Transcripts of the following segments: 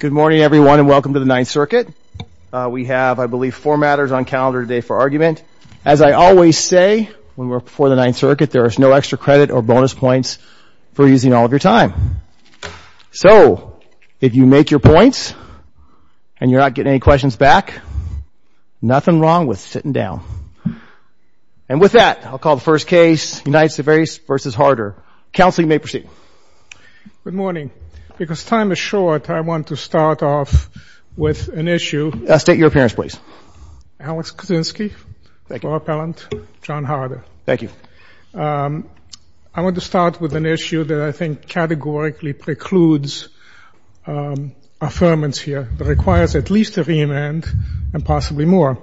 Good morning, everyone, and welcome to the Ninth Circuit. We have, I believe, four matters on calendar today for argument. As I always say when we're before the Ninth Circuit, there is no extra credit or bonus points for using all of your time. So if you make your points and you're not getting any questions back, nothing wrong with sitting down. And with that, I'll call the first case, United States v. Harder. Counsel, you may proceed. Good morning. Because time is short, I want to start off with an issue. State your appearance, please. Alex Kuczynski. Thank you. Laura Pellant. John Harder. Thank you. I want to start with an issue that I think categorically precludes affirmance here. It requires at least a remand and possibly more.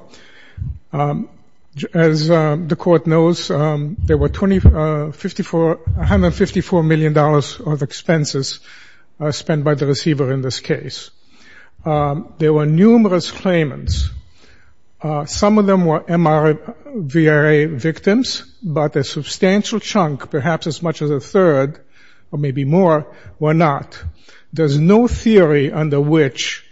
As the Court knows, there were $154 million of expenses spent by the receiver in this case. There were numerous claimants. Some of them were MRVRA victims, but a substantial chunk, perhaps as much as a third or maybe more, were not. There's no theory under which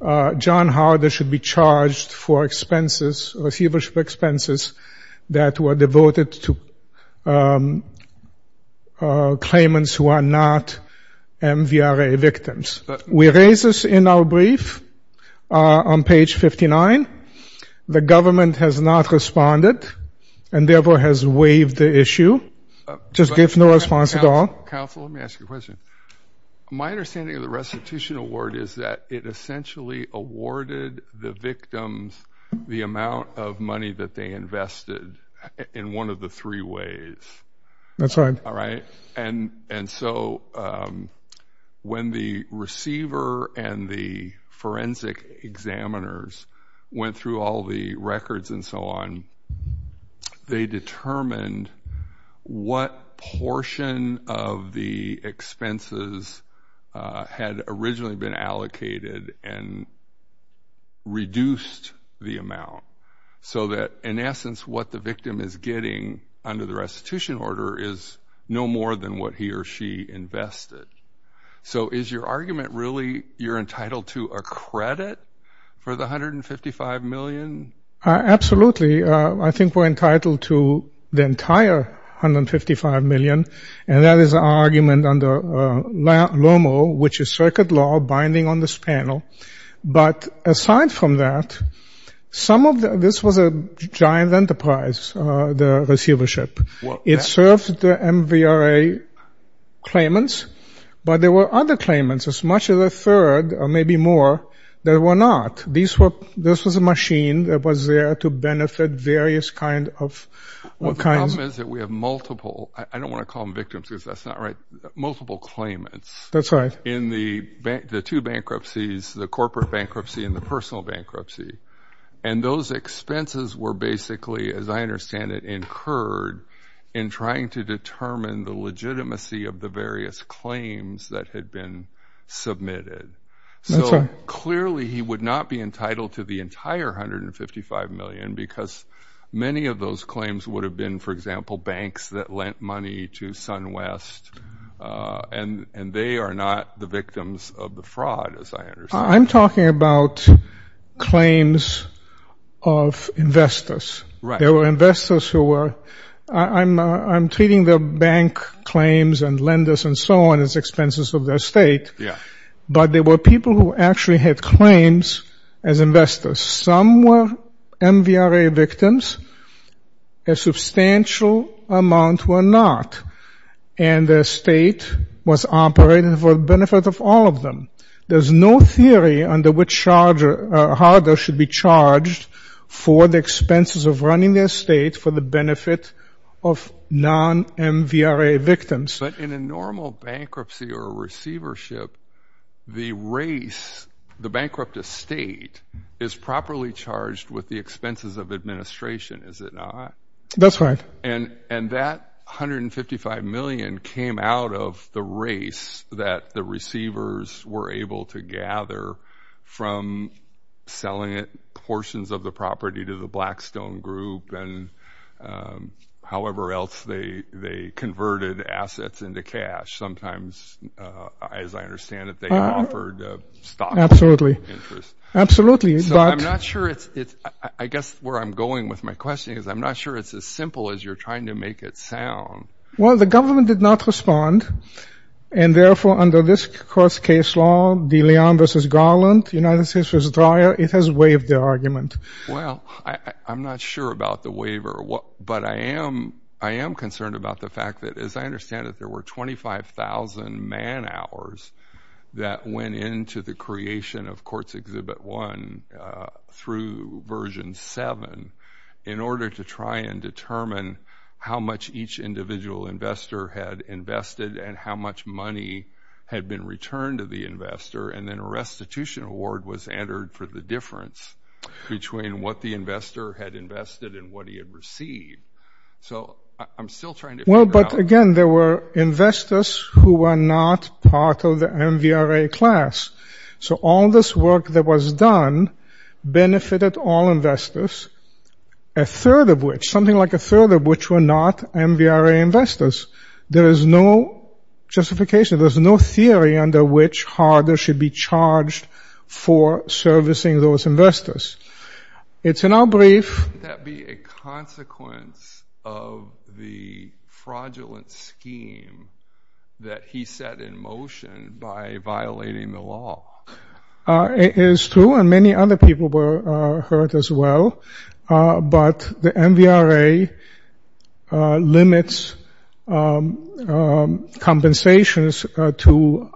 John Harder should be charged for expenses, receivership expenses, that were devoted to claimants who are not MVRA victims. We raised this in our brief on page 59. The government has not responded and therefore has waived the issue. Just gave no response at all. Counsel, let me ask you a question. My understanding of the restitution award is that it essentially awarded the victims the amount of money that they invested in one of the three ways. That's right. All right? And so when the receiver and the forensic examiners went through all the records and so on, they determined what portion of the expenses had originally been allocated and reduced the amount. So that, in essence, what the victim is getting under the restitution order is no more than what he or she invested. So is your argument really you're entitled to a credit for the $155 million? Absolutely. I think we're entitled to the entire $155 million, and that is our argument under LOMO, which is circuit law binding on this panel. But aside from that, this was a giant enterprise, the receivership. It served the MVRA claimants, but there were other claimants, as much as a third or maybe more, that were not. This was a machine that was there to benefit various kinds of- Well, the problem is that we have multiple, I don't want to call them victims because that's not right, multiple claimants. That's right. In the two bankruptcies, the corporate bankruptcy and the personal bankruptcy, and those expenses were basically, as I understand it, incurred in trying to determine the legitimacy of the various claims that had been submitted. So clearly he would not be entitled to the entire $155 million because many of those claims would have been, for example, banks that lent money to SunWest, and they are not the victims of the fraud, as I understand it. I'm talking about claims of investors. Right. There were investors who were- I'm treating the bank claims and lenders and so on as expenses of their estate. Yeah. But there were people who actually had claims as investors. Some were MVRA victims. A substantial amount were not, and their estate was operated for the benefit of all of them. There's no theory on how they should be charged for the expenses of running their estate for the benefit of non-MVRA victims. But in a normal bankruptcy or receivership, the race, the bankrupt estate, is properly charged with the expenses of administration, is it not? That's right. Well, the government did not respond, and therefore under this court's case law, De Leon v. Garland, United States v. Dreyer, it has waived their argument. Well, I'm not sure about the waiver, but I am concerned about the fact that, as I understand it, there were 25,000 man hours that went into the creation of Courts Exhibit 1 through version 7 in order to try and determine how much each individual investor had invested and how much money had been returned to the investor, and then a restitution award was entered for the difference between what the investor had invested and what he had received. So I'm still trying to figure out— Well, but again, there were investors who were not part of the MVRA class. So all this work that was done benefited all investors, a third of which, something like a third of which were not MVRA investors. There is no justification, there's no theory under which HARDA should be charged for servicing those investors. It's in our brief— Wouldn't that be a consequence of the fraudulent scheme that he set in motion by violating the law? It is true, and many other people were hurt as well. But the MVRA limits compensations to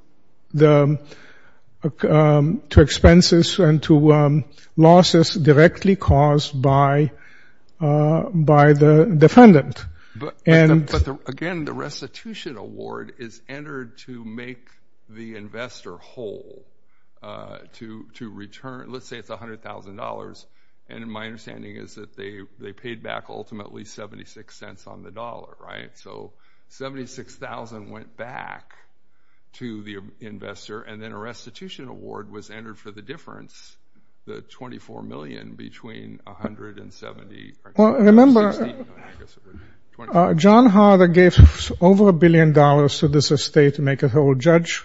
expenses and to losses directly caused by the defendant. But again, the restitution award is entered to make the investor whole, to return—let's say it's $100,000. And my understanding is that they paid back ultimately $0.76 on the dollar, right? So $76,000 went back to the investor, and then a restitution award was entered for the difference, the $24 million between $100,000 and $70,000. Remember, John HARDA gave over a billion dollars to this estate to make it whole. Judge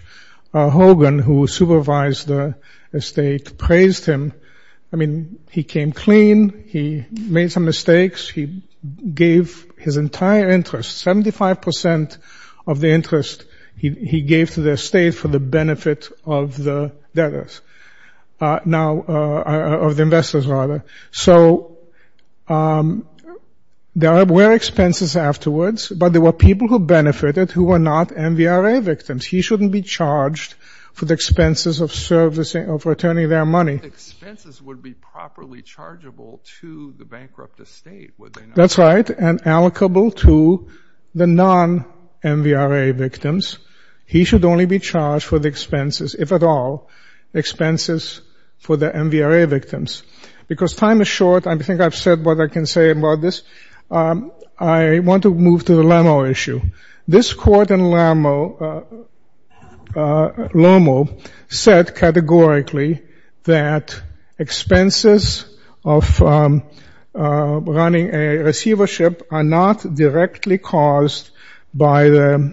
Hogan, who supervised the estate, praised him. I mean, he came clean. He made some mistakes. He gave his entire interest, 75 percent of the interest he gave to the estate for the benefit of the debtors—of the investors, rather. So there were expenses afterwards, but there were people who benefited who were not MVRA victims. He shouldn't be charged for the expenses of servicing—of returning their money. The expenses would be properly chargeable to the bankrupt estate, would they not? That's right, and allocable to the non-MVRA victims. He should only be charged for the expenses, if at all, expenses for the MVRA victims. Because time is short, I think I've said what I can say about this, I want to move to the Lamo issue. This court in Lamo said categorically that expenses of running a receivership are not directly caused by the—are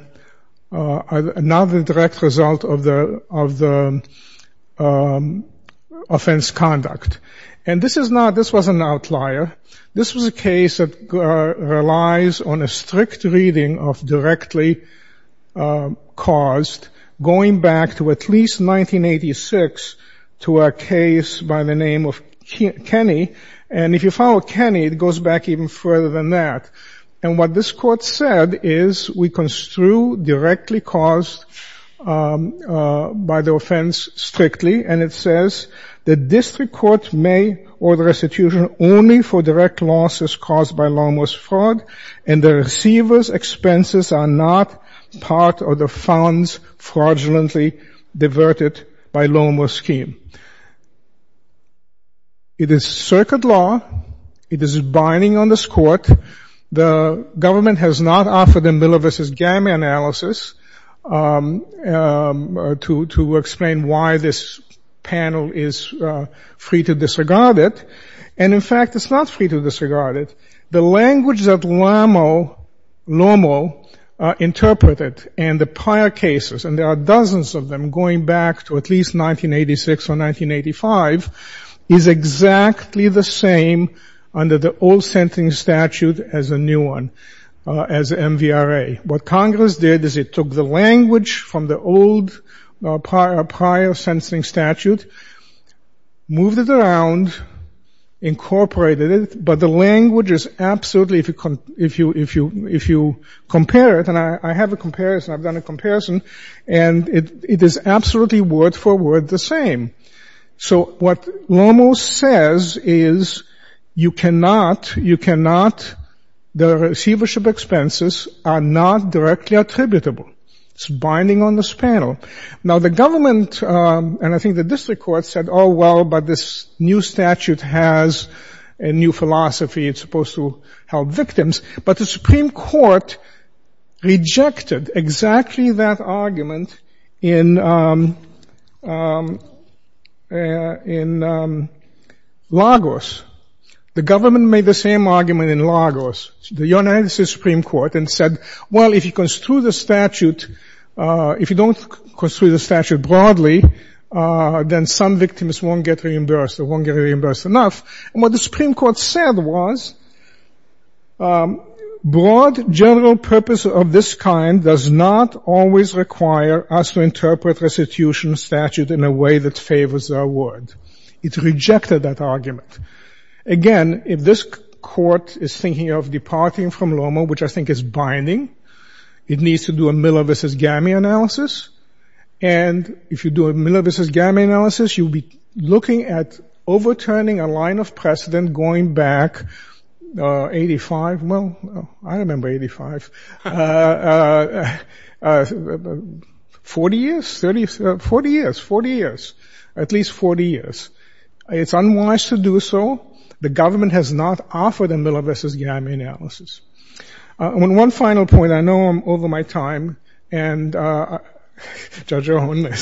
not a direct result of the offense conduct. And this is not—this was an outlier. This was a case that relies on a strict reading of directly caused, going back to at least 1986 to a case by the name of Kenney. And if you follow Kenney, it goes back even further than that. And what this court said is we construe directly caused by the offense strictly, and it says the district court may order restitution only for direct losses caused by Lamo's fraud, and the receiver's expenses are not part of the funds fraudulently diverted by Lamo's scheme. It is circuit law. It is binding on this court. The government has not offered a Miller v. Gama analysis to explain why this panel is free to disregard it. And, in fact, it's not free to disregard it. The language that Lamo interpreted and the prior cases, and there are dozens of them going back to at least 1986 or 1985, is exactly the same under the old sentencing statute as a new one, as MVRA. What Congress did is it took the language from the old prior sentencing statute, moved it around, incorporated it, but the language is absolutely—if you compare it, and I have a comparison, I've done a comparison, and it is absolutely word for word the same. So what Lamo says is you cannot—the receivership expenses are not directly attributable. It's binding on this panel. Now, the government, and I think the district court, said, oh, well, but this new statute has a new philosophy. It's supposed to help victims. But the Supreme Court rejected exactly that argument in Lagos. The government made the same argument in Lagos, the United States Supreme Court, and said, well, if you construe the statute—if you don't construe the statute broadly, then some victims won't get reimbursed or won't get reimbursed enough. And what the Supreme Court said was broad general purpose of this kind does not always require us to interpret restitution statute in a way that favors our word. It rejected that argument. Again, if this court is thinking of departing from Lamo, which I think is binding, it needs to do a Miller v. Gamme analysis, and if you do a Miller v. Gamme analysis, you'll be looking at overturning a line of precedent going back 85—well, I remember 85. Forty years? Forty years. Forty years. At least 40 years. It's unwise to do so. The government has not offered a Miller v. Gamme analysis. One final point. I know I'm over my time, and Judge Owen,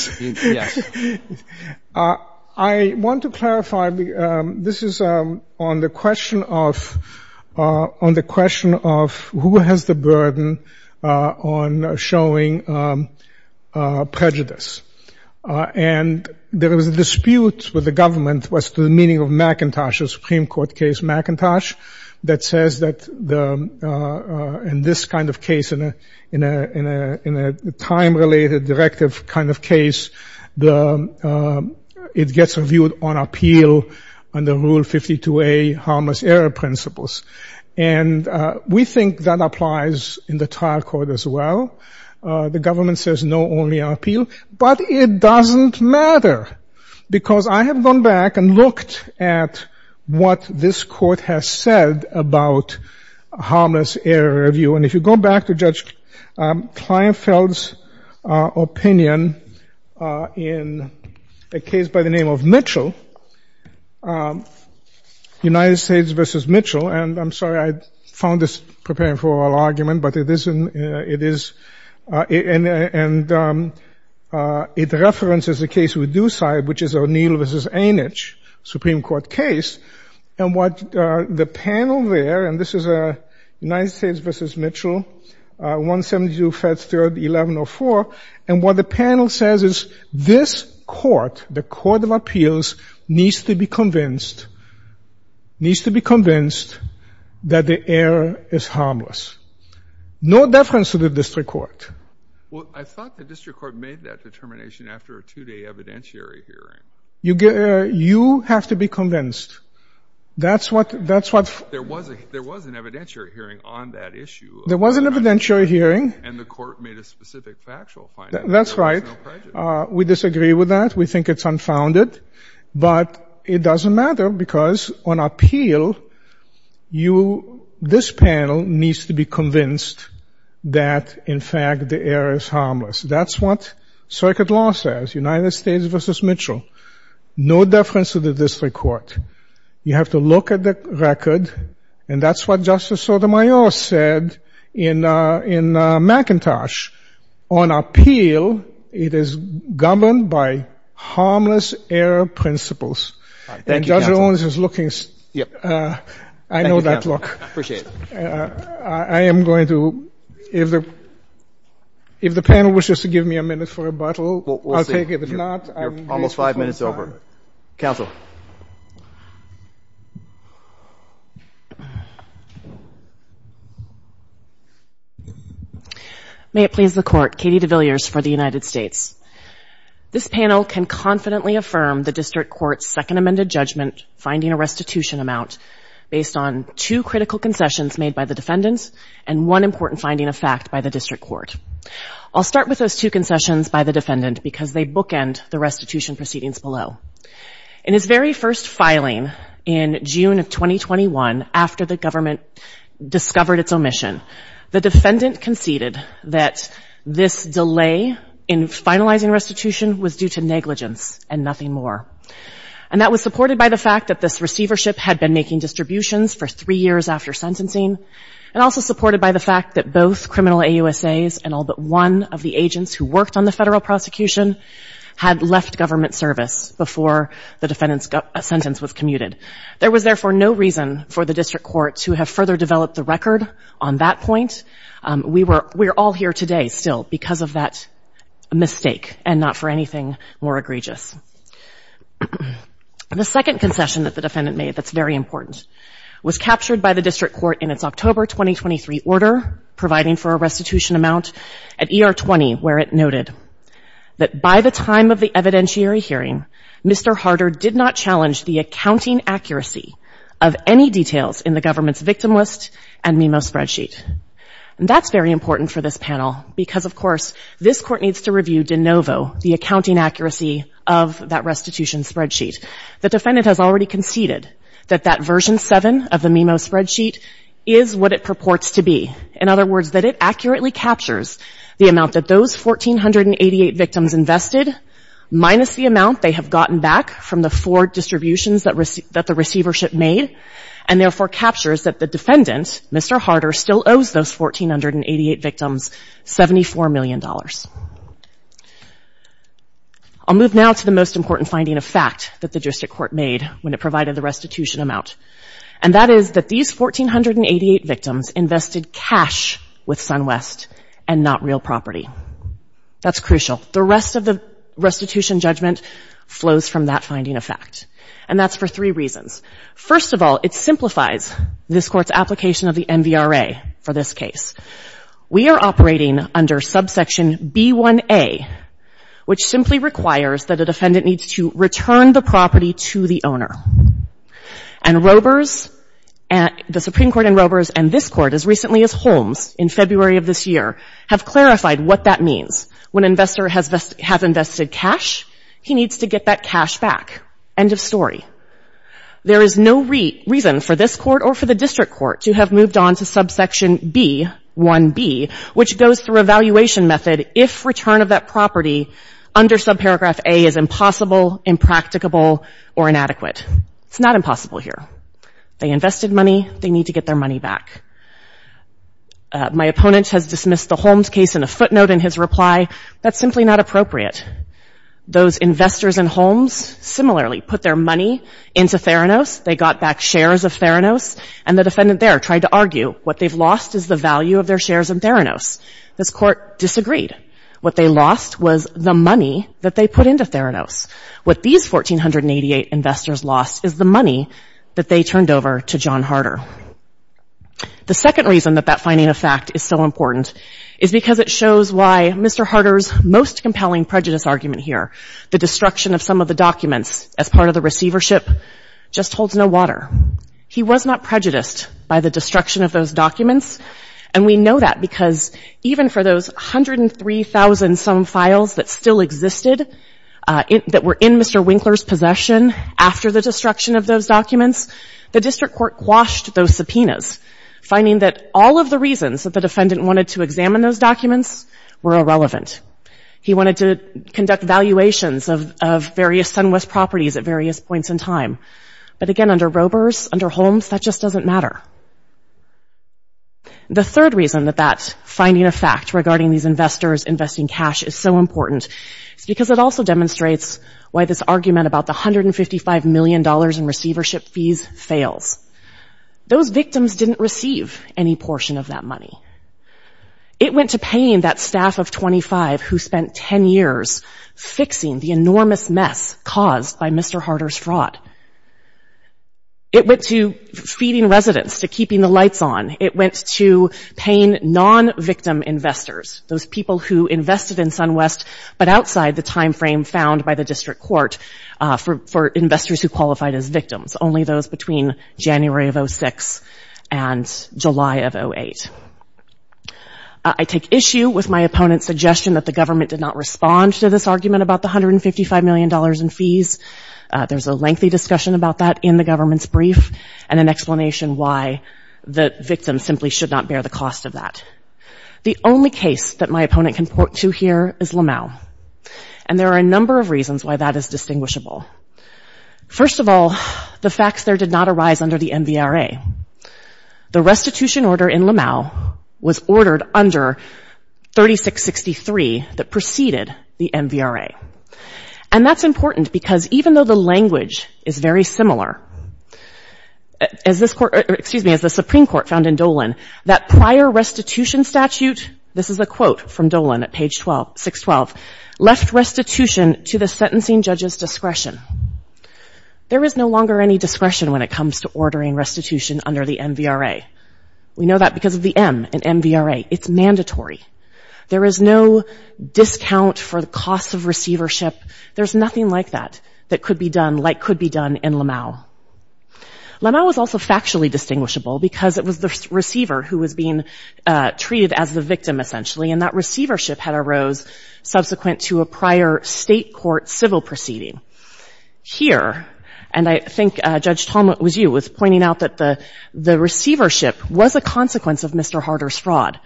I want to clarify. This is on the question of who has the burden on showing prejudice. And there was a dispute with the government as to the meaning of McIntosh, a Supreme Court case, McIntosh, that says that in this kind of case, in a time-related directive kind of case, it gets reviewed on appeal under Rule 52A, harmless error principles. And we think that applies in the trial court as well. The government says no, only on appeal. But it doesn't matter, because I have gone back and looked at what this court has said about harmless error review. And if you go back to Judge Kleinfeld's opinion in a case by the name of Mitchell, United States v. Mitchell— and I'm sorry, I found this preparing for oral argument, but it is— and it references a case with Dusside, which is O'Neill v. Anich, Supreme Court case. And what the panel there—and this is United States v. Mitchell, 172 Feds 3rd, 1104. And what the panel says is this court, the court of appeals, needs to be convinced, needs to be convinced that the error is harmless. No deference to the district court. Breyer. Well, I thought the district court made that determination after a two-day evidentiary hearing. Sotomayor. You have to be convinced. That's what— Breyer. There was an evidentiary hearing on that issue. Sotomayor. There was an evidentiary hearing. Breyer. And the court made a specific factual finding. Sotomayor. That's right. Breyer. There was no prejudice. Sotomayor. We disagree with that. We think it's unfounded. But it doesn't matter because on appeal, you—this panel needs to be convinced that, in fact, the error is harmless. That's what circuit law says, United States v. Mitchell. No deference to the district court. You have to look at the record, and that's what Justice Sotomayor said in McIntosh. On appeal, it is governed by harmless error principles. Breyer. Thank you, counsel. Sotomayor. And Judge Owens is looking— Breyer. Yep. Sotomayor. I know that look. Breyer. Appreciate it. Sotomayor. I am going to—if the panel wishes to give me a minute for rebuttal, I'll take it. Breyer. Well, we'll see. You're almost five minutes over. Counsel. May it please the Court. Katie DeVilliers for the United States. This panel can confidently affirm the district court's second amended judgment finding a restitution amount based on two critical concessions made by the defendants and one important finding of fact by the district court. I'll start with those two concessions by the defendant because they bookend the restitution proceedings below. In his very first filing in June of 2021, after the government discovered its omission, the defendant conceded that this delay in finalizing restitution was due to negligence and nothing more. And that was supported by the fact that this receivership had been making distributions for three years after sentencing and also supported by the fact that both criminal AUSAs and all but one of the agents who worked on the federal prosecution had left government service before the defendant's sentence was commuted. There was therefore no reason for the district court to have further developed the record on that point. We're all here today still because of that mistake and not for anything more egregious. The second concession that the defendant made that's very important was captured by the district court in its October 2023 order providing for a restitution amount at ER 20 where it noted that by the time of the evidentiary hearing, Mr. Harder did not challenge the accounting accuracy of any details in the government's victim list and MIMO spreadsheet. And that's very important for this panel because, of course, this court needs to review de novo the accounting accuracy of that restitution spreadsheet. The defendant has already conceded that that version 7 of the MIMO spreadsheet is what it purports to be. In other words, that it accurately captures the amount that those 1,488 victims invested minus the amount they have gotten back from the four distributions that the receivership made and therefore captures that the defendant, Mr. Harder, still owes those 1,488 victims $74 million. I'll move now to the most important finding of fact that the district court made when it provided the restitution amount. And that is that these 1,488 victims invested cash with SunWest and not real property. That's crucial. The rest of the restitution judgment flows from that finding of fact. And that's for three reasons. First of all, it simplifies this Court's application of the MVRA for this case. We are operating under subsection B1A, which simply requires that a defendant needs to return the property to the owner. And Robers, the Supreme Court in Robers and this Court as recently as Holmes in February of this year have clarified what that means. When an investor has invested cash, he needs to get that cash back. End of story. There is no reason for this Court or for the district court to have moved on to subsection B1B, which goes through a valuation method if return of that property under subparagraph A is impossible, impracticable, or inadequate. It's not impossible here. They invested money. They need to get their money back. My opponent has dismissed the Holmes case in a footnote in his reply. That's simply not appropriate. Those investors in Holmes similarly put their money into Theranos. They got back shares of Theranos. And the defendant there tried to argue what they've lost is the value of their shares in Theranos. This Court disagreed. What they lost was the money that they put into Theranos. What these 1,488 investors lost is the money that they turned over to John Harder. The second reason that that finding of fact is so important is because it shows why Mr. Harder's most compelling prejudice argument here, the destruction of some of the documents as part of the receivership, just holds no water. He was not prejudiced by the destruction of those documents. And we know that because even for those 103,000-some files that still existed that were in Mr. Winkler's possession after the destruction of those documents, the district court quashed those subpoenas, finding that all of the reasons that the defendant wanted to examine those documents were irrelevant. He wanted to conduct valuations of various SunWest properties at various points in time. But again, under Robers, under Holmes, that just doesn't matter. The third reason that that finding of fact regarding these investors investing cash is so important is because it also demonstrates why this argument about the $155 million in receivership fees fails. Those victims didn't receive any portion of that money. It went to paying that staff of 25 who spent 10 years fixing the enormous mess caused by Mr. Harder's fraud. It went to feeding residents, to keeping the lights on. It went to paying non-victim investors, those people who invested in SunWest but outside the timeframe found by the district court for investors who qualified as victims, only those between January of 06 and July of 08. I take issue with my opponent's suggestion that the government did not respond to this argument about the $155 million in fees. There's a lengthy discussion about that in the government's brief and an explanation why the victim simply should not bear the cost of that. The only case that my opponent can point to here is Lamau. And there are a number of reasons why that is distinguishable. First of all, the facts there did not arise under the MVRA. The restitution order in Lamau was ordered under 3663 that preceded the MVRA. And that's important because even though the language is very similar, as the Supreme Court found in Dolan, that prior restitution statute, this is a quote from Dolan at page 612, left restitution to the sentencing judge's discretion. There is no longer any discretion when it comes to ordering restitution under the MVRA. We know that because of the M in MVRA. It's mandatory. There is no discount for the cost of receivership. There's nothing like that that could be done, like could be done in Lamau. Lamau was also factually distinguishable because it was the receiver who was being treated as the victim, essentially. And that receivership had arose subsequent to a prior state court civil proceeding. Here, and I think Judge Tolman was you, was pointing out that the receivership was a consequence of Mr. Harder's fraud.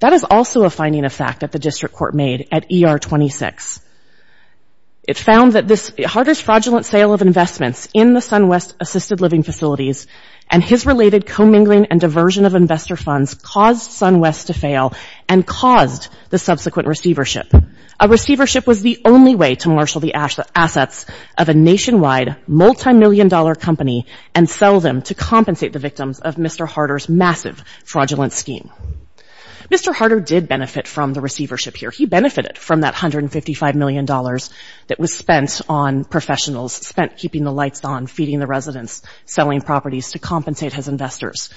That is also a finding of fact that the district court made at ER 26. It found that this Harder's fraudulent sale of investments in the SunWest assisted living facilities and his related co-mingling and diversion of investor funds caused SunWest to fail and caused the subsequent receivership. A receivership was the only way to marshal the assets of a nationwide multi-million dollar company and sell them to compensate the victims of Mr. Harder's massive fraudulent scheme. Mr. Harder did benefit from the receivership here. He benefited from that $155 million that was spent on professionals, keeping the lights on, feeding the residents, selling properties to compensate his investors.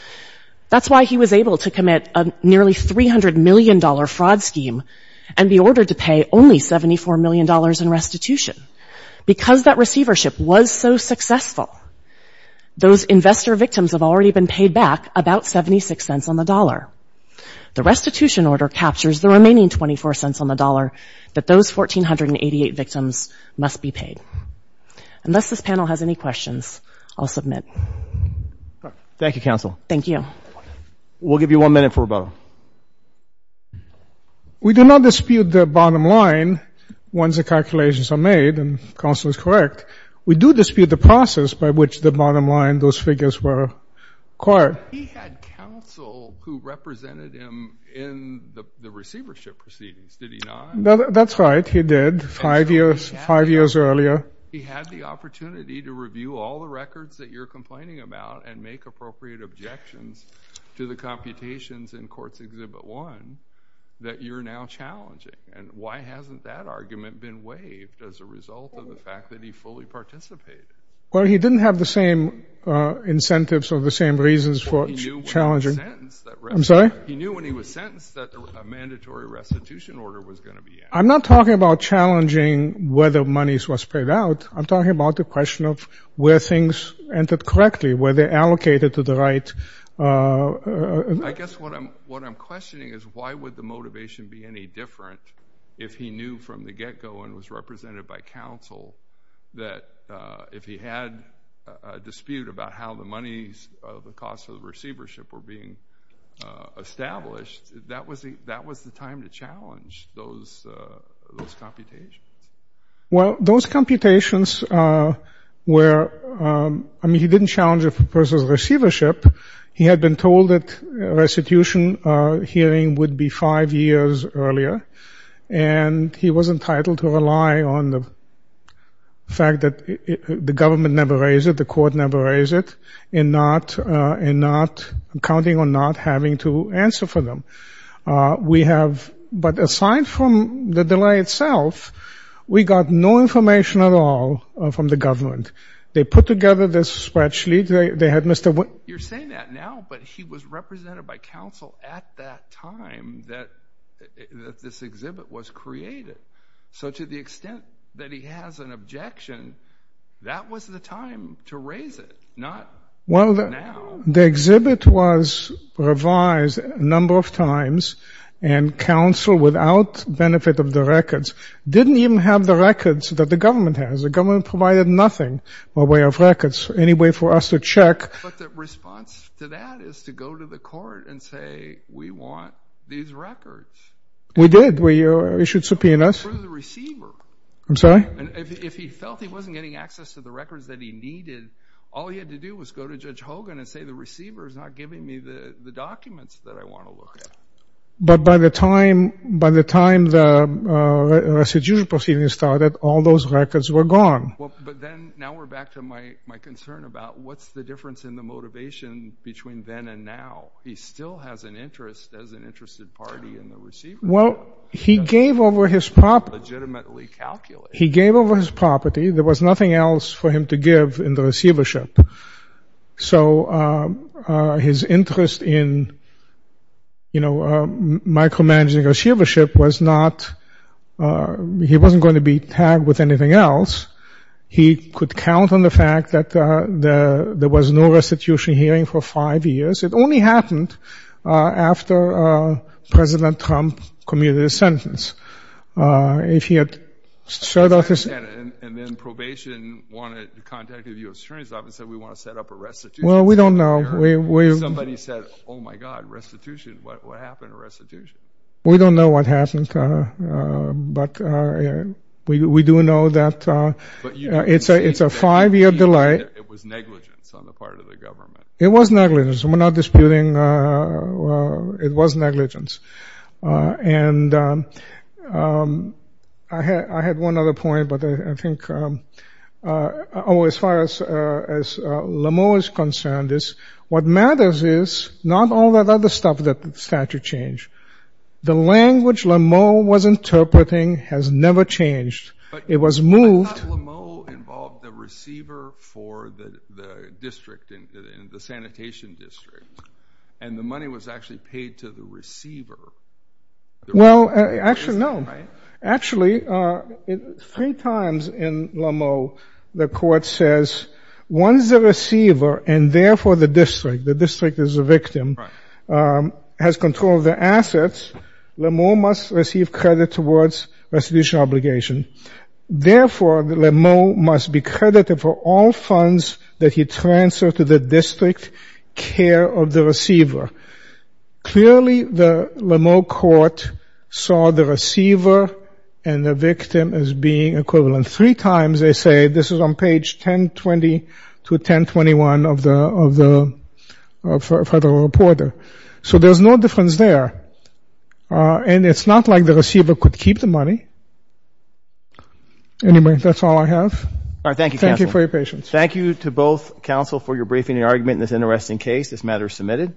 That's why he was able to commit a nearly $300 million fraud scheme and be ordered to pay only $74 million in restitution. Because that receivership was so successful, those investor victims have already been paid back about 76 cents on the dollar. The restitution order captures the remaining 24 cents on the dollar that those 1,488 victims must be paid. Unless this panel has any questions, I'll submit. Thank you, Counsel. We'll give you one minute for rebuttal. We do not dispute the bottom line once the calculations are made, and Counsel is correct. We do dispute the process by which the bottom line, those figures were acquired. But he had Counsel who represented him in the receivership proceedings, did he not? That's right, he did, five years earlier. He had the opportunity to review all the records that you're complaining about and make appropriate objections to the computations in Courts Exhibit 1 that you're now challenging. And why hasn't that argument been waived as a result of the fact that he fully participated? Well, he didn't have the same incentives or the same reasons for challenging. He knew when he was sentenced that a mandatory restitution order was going to be in. I'm not talking about challenging whether monies were spread out. I'm talking about the question of where things entered correctly, where they're allocated to the right... I guess what I'm questioning is why would the motivation be any different if he knew from the get-go and was represented by Counsel that if he had a dispute about how the monies, the cost of the receivership were being established, that was the time to challenge those computations? Well, those computations were... I mean, he didn't challenge a person's receivership. He had been told that a restitution hearing would be five years earlier. And he was entitled to rely on the fact that the government never raised it, the court never raised it, and not... counting on not having to answer for them. We have... but aside from the delay itself, we got no information at all from the government. They put together this spreadsheet. They had Mr... You're saying that now, but he was represented by Counsel at that time that this exhibit was created. So to the extent that he has an objection, that was the time to raise it, not now. The exhibit was revised a number of times, and Counsel, without benefit of the records, didn't even have the records that the government has. The government provided nothing by way of records, any way for us to check. But the response to that is to go to the court and say, we want these records. We did. We issued subpoenas. And if he felt he wasn't getting access to the records that he needed, all he had to do was go to Judge Hogan and say, the receiver is not giving me the documents that I want to look at. But by the time the residual proceedings started, all those records were gone. But then, now we're back to my concern about what's the difference in the motivation between then and now? He still has an interest as an interested party in the receivership. Well, he gave over his property. Legitimately calculated. He gave over his property. There was nothing else for him to give in the receivership. So his interest in micromanaging the receivership was not, he wasn't going to be tagged with anything else. He could count on the fact that there was no restitution hearing for five years. It only happened after President Trump commuted his sentence. And then probation contacted the U.S. Attorney's Office and said, we want to set up a restitution hearing. Well, we don't know. Somebody said, oh my God, restitution. What happened to restitution? We don't know what happened, but we do know that it's a five-year delay. It was negligence on the part of the government. It was negligence. We're not disputing. It was negligence. And I had one other point, but I think, as far as Lameau is concerned, is what matters is not all that other stuff that the statute changed. The language Lameau was interpreting has never changed. It was moved. I thought Lameau involved the receiver for the district, the sanitation district. And the money was actually paid to the receiver. Well, actually, no. Actually, three times in Lameau, the court says, once the receiver, and therefore the district, the district is the victim, has control of the assets, Lameau must receive credit towards restitution obligation. Therefore, Lameau must be credited for all funds that he transfers to the district care of the receiver. Clearly, the Lameau court saw the receiver and the victim as being equivalent. Three times they say, this is on page 1020 to 1021 of the federal reporter. So there's no difference there. And it's not like the receiver could keep the money. Anyway, that's all I have. Thank you for your patience. Thank you to both counsel for your briefing and argument in this interesting case. This matter is submitted.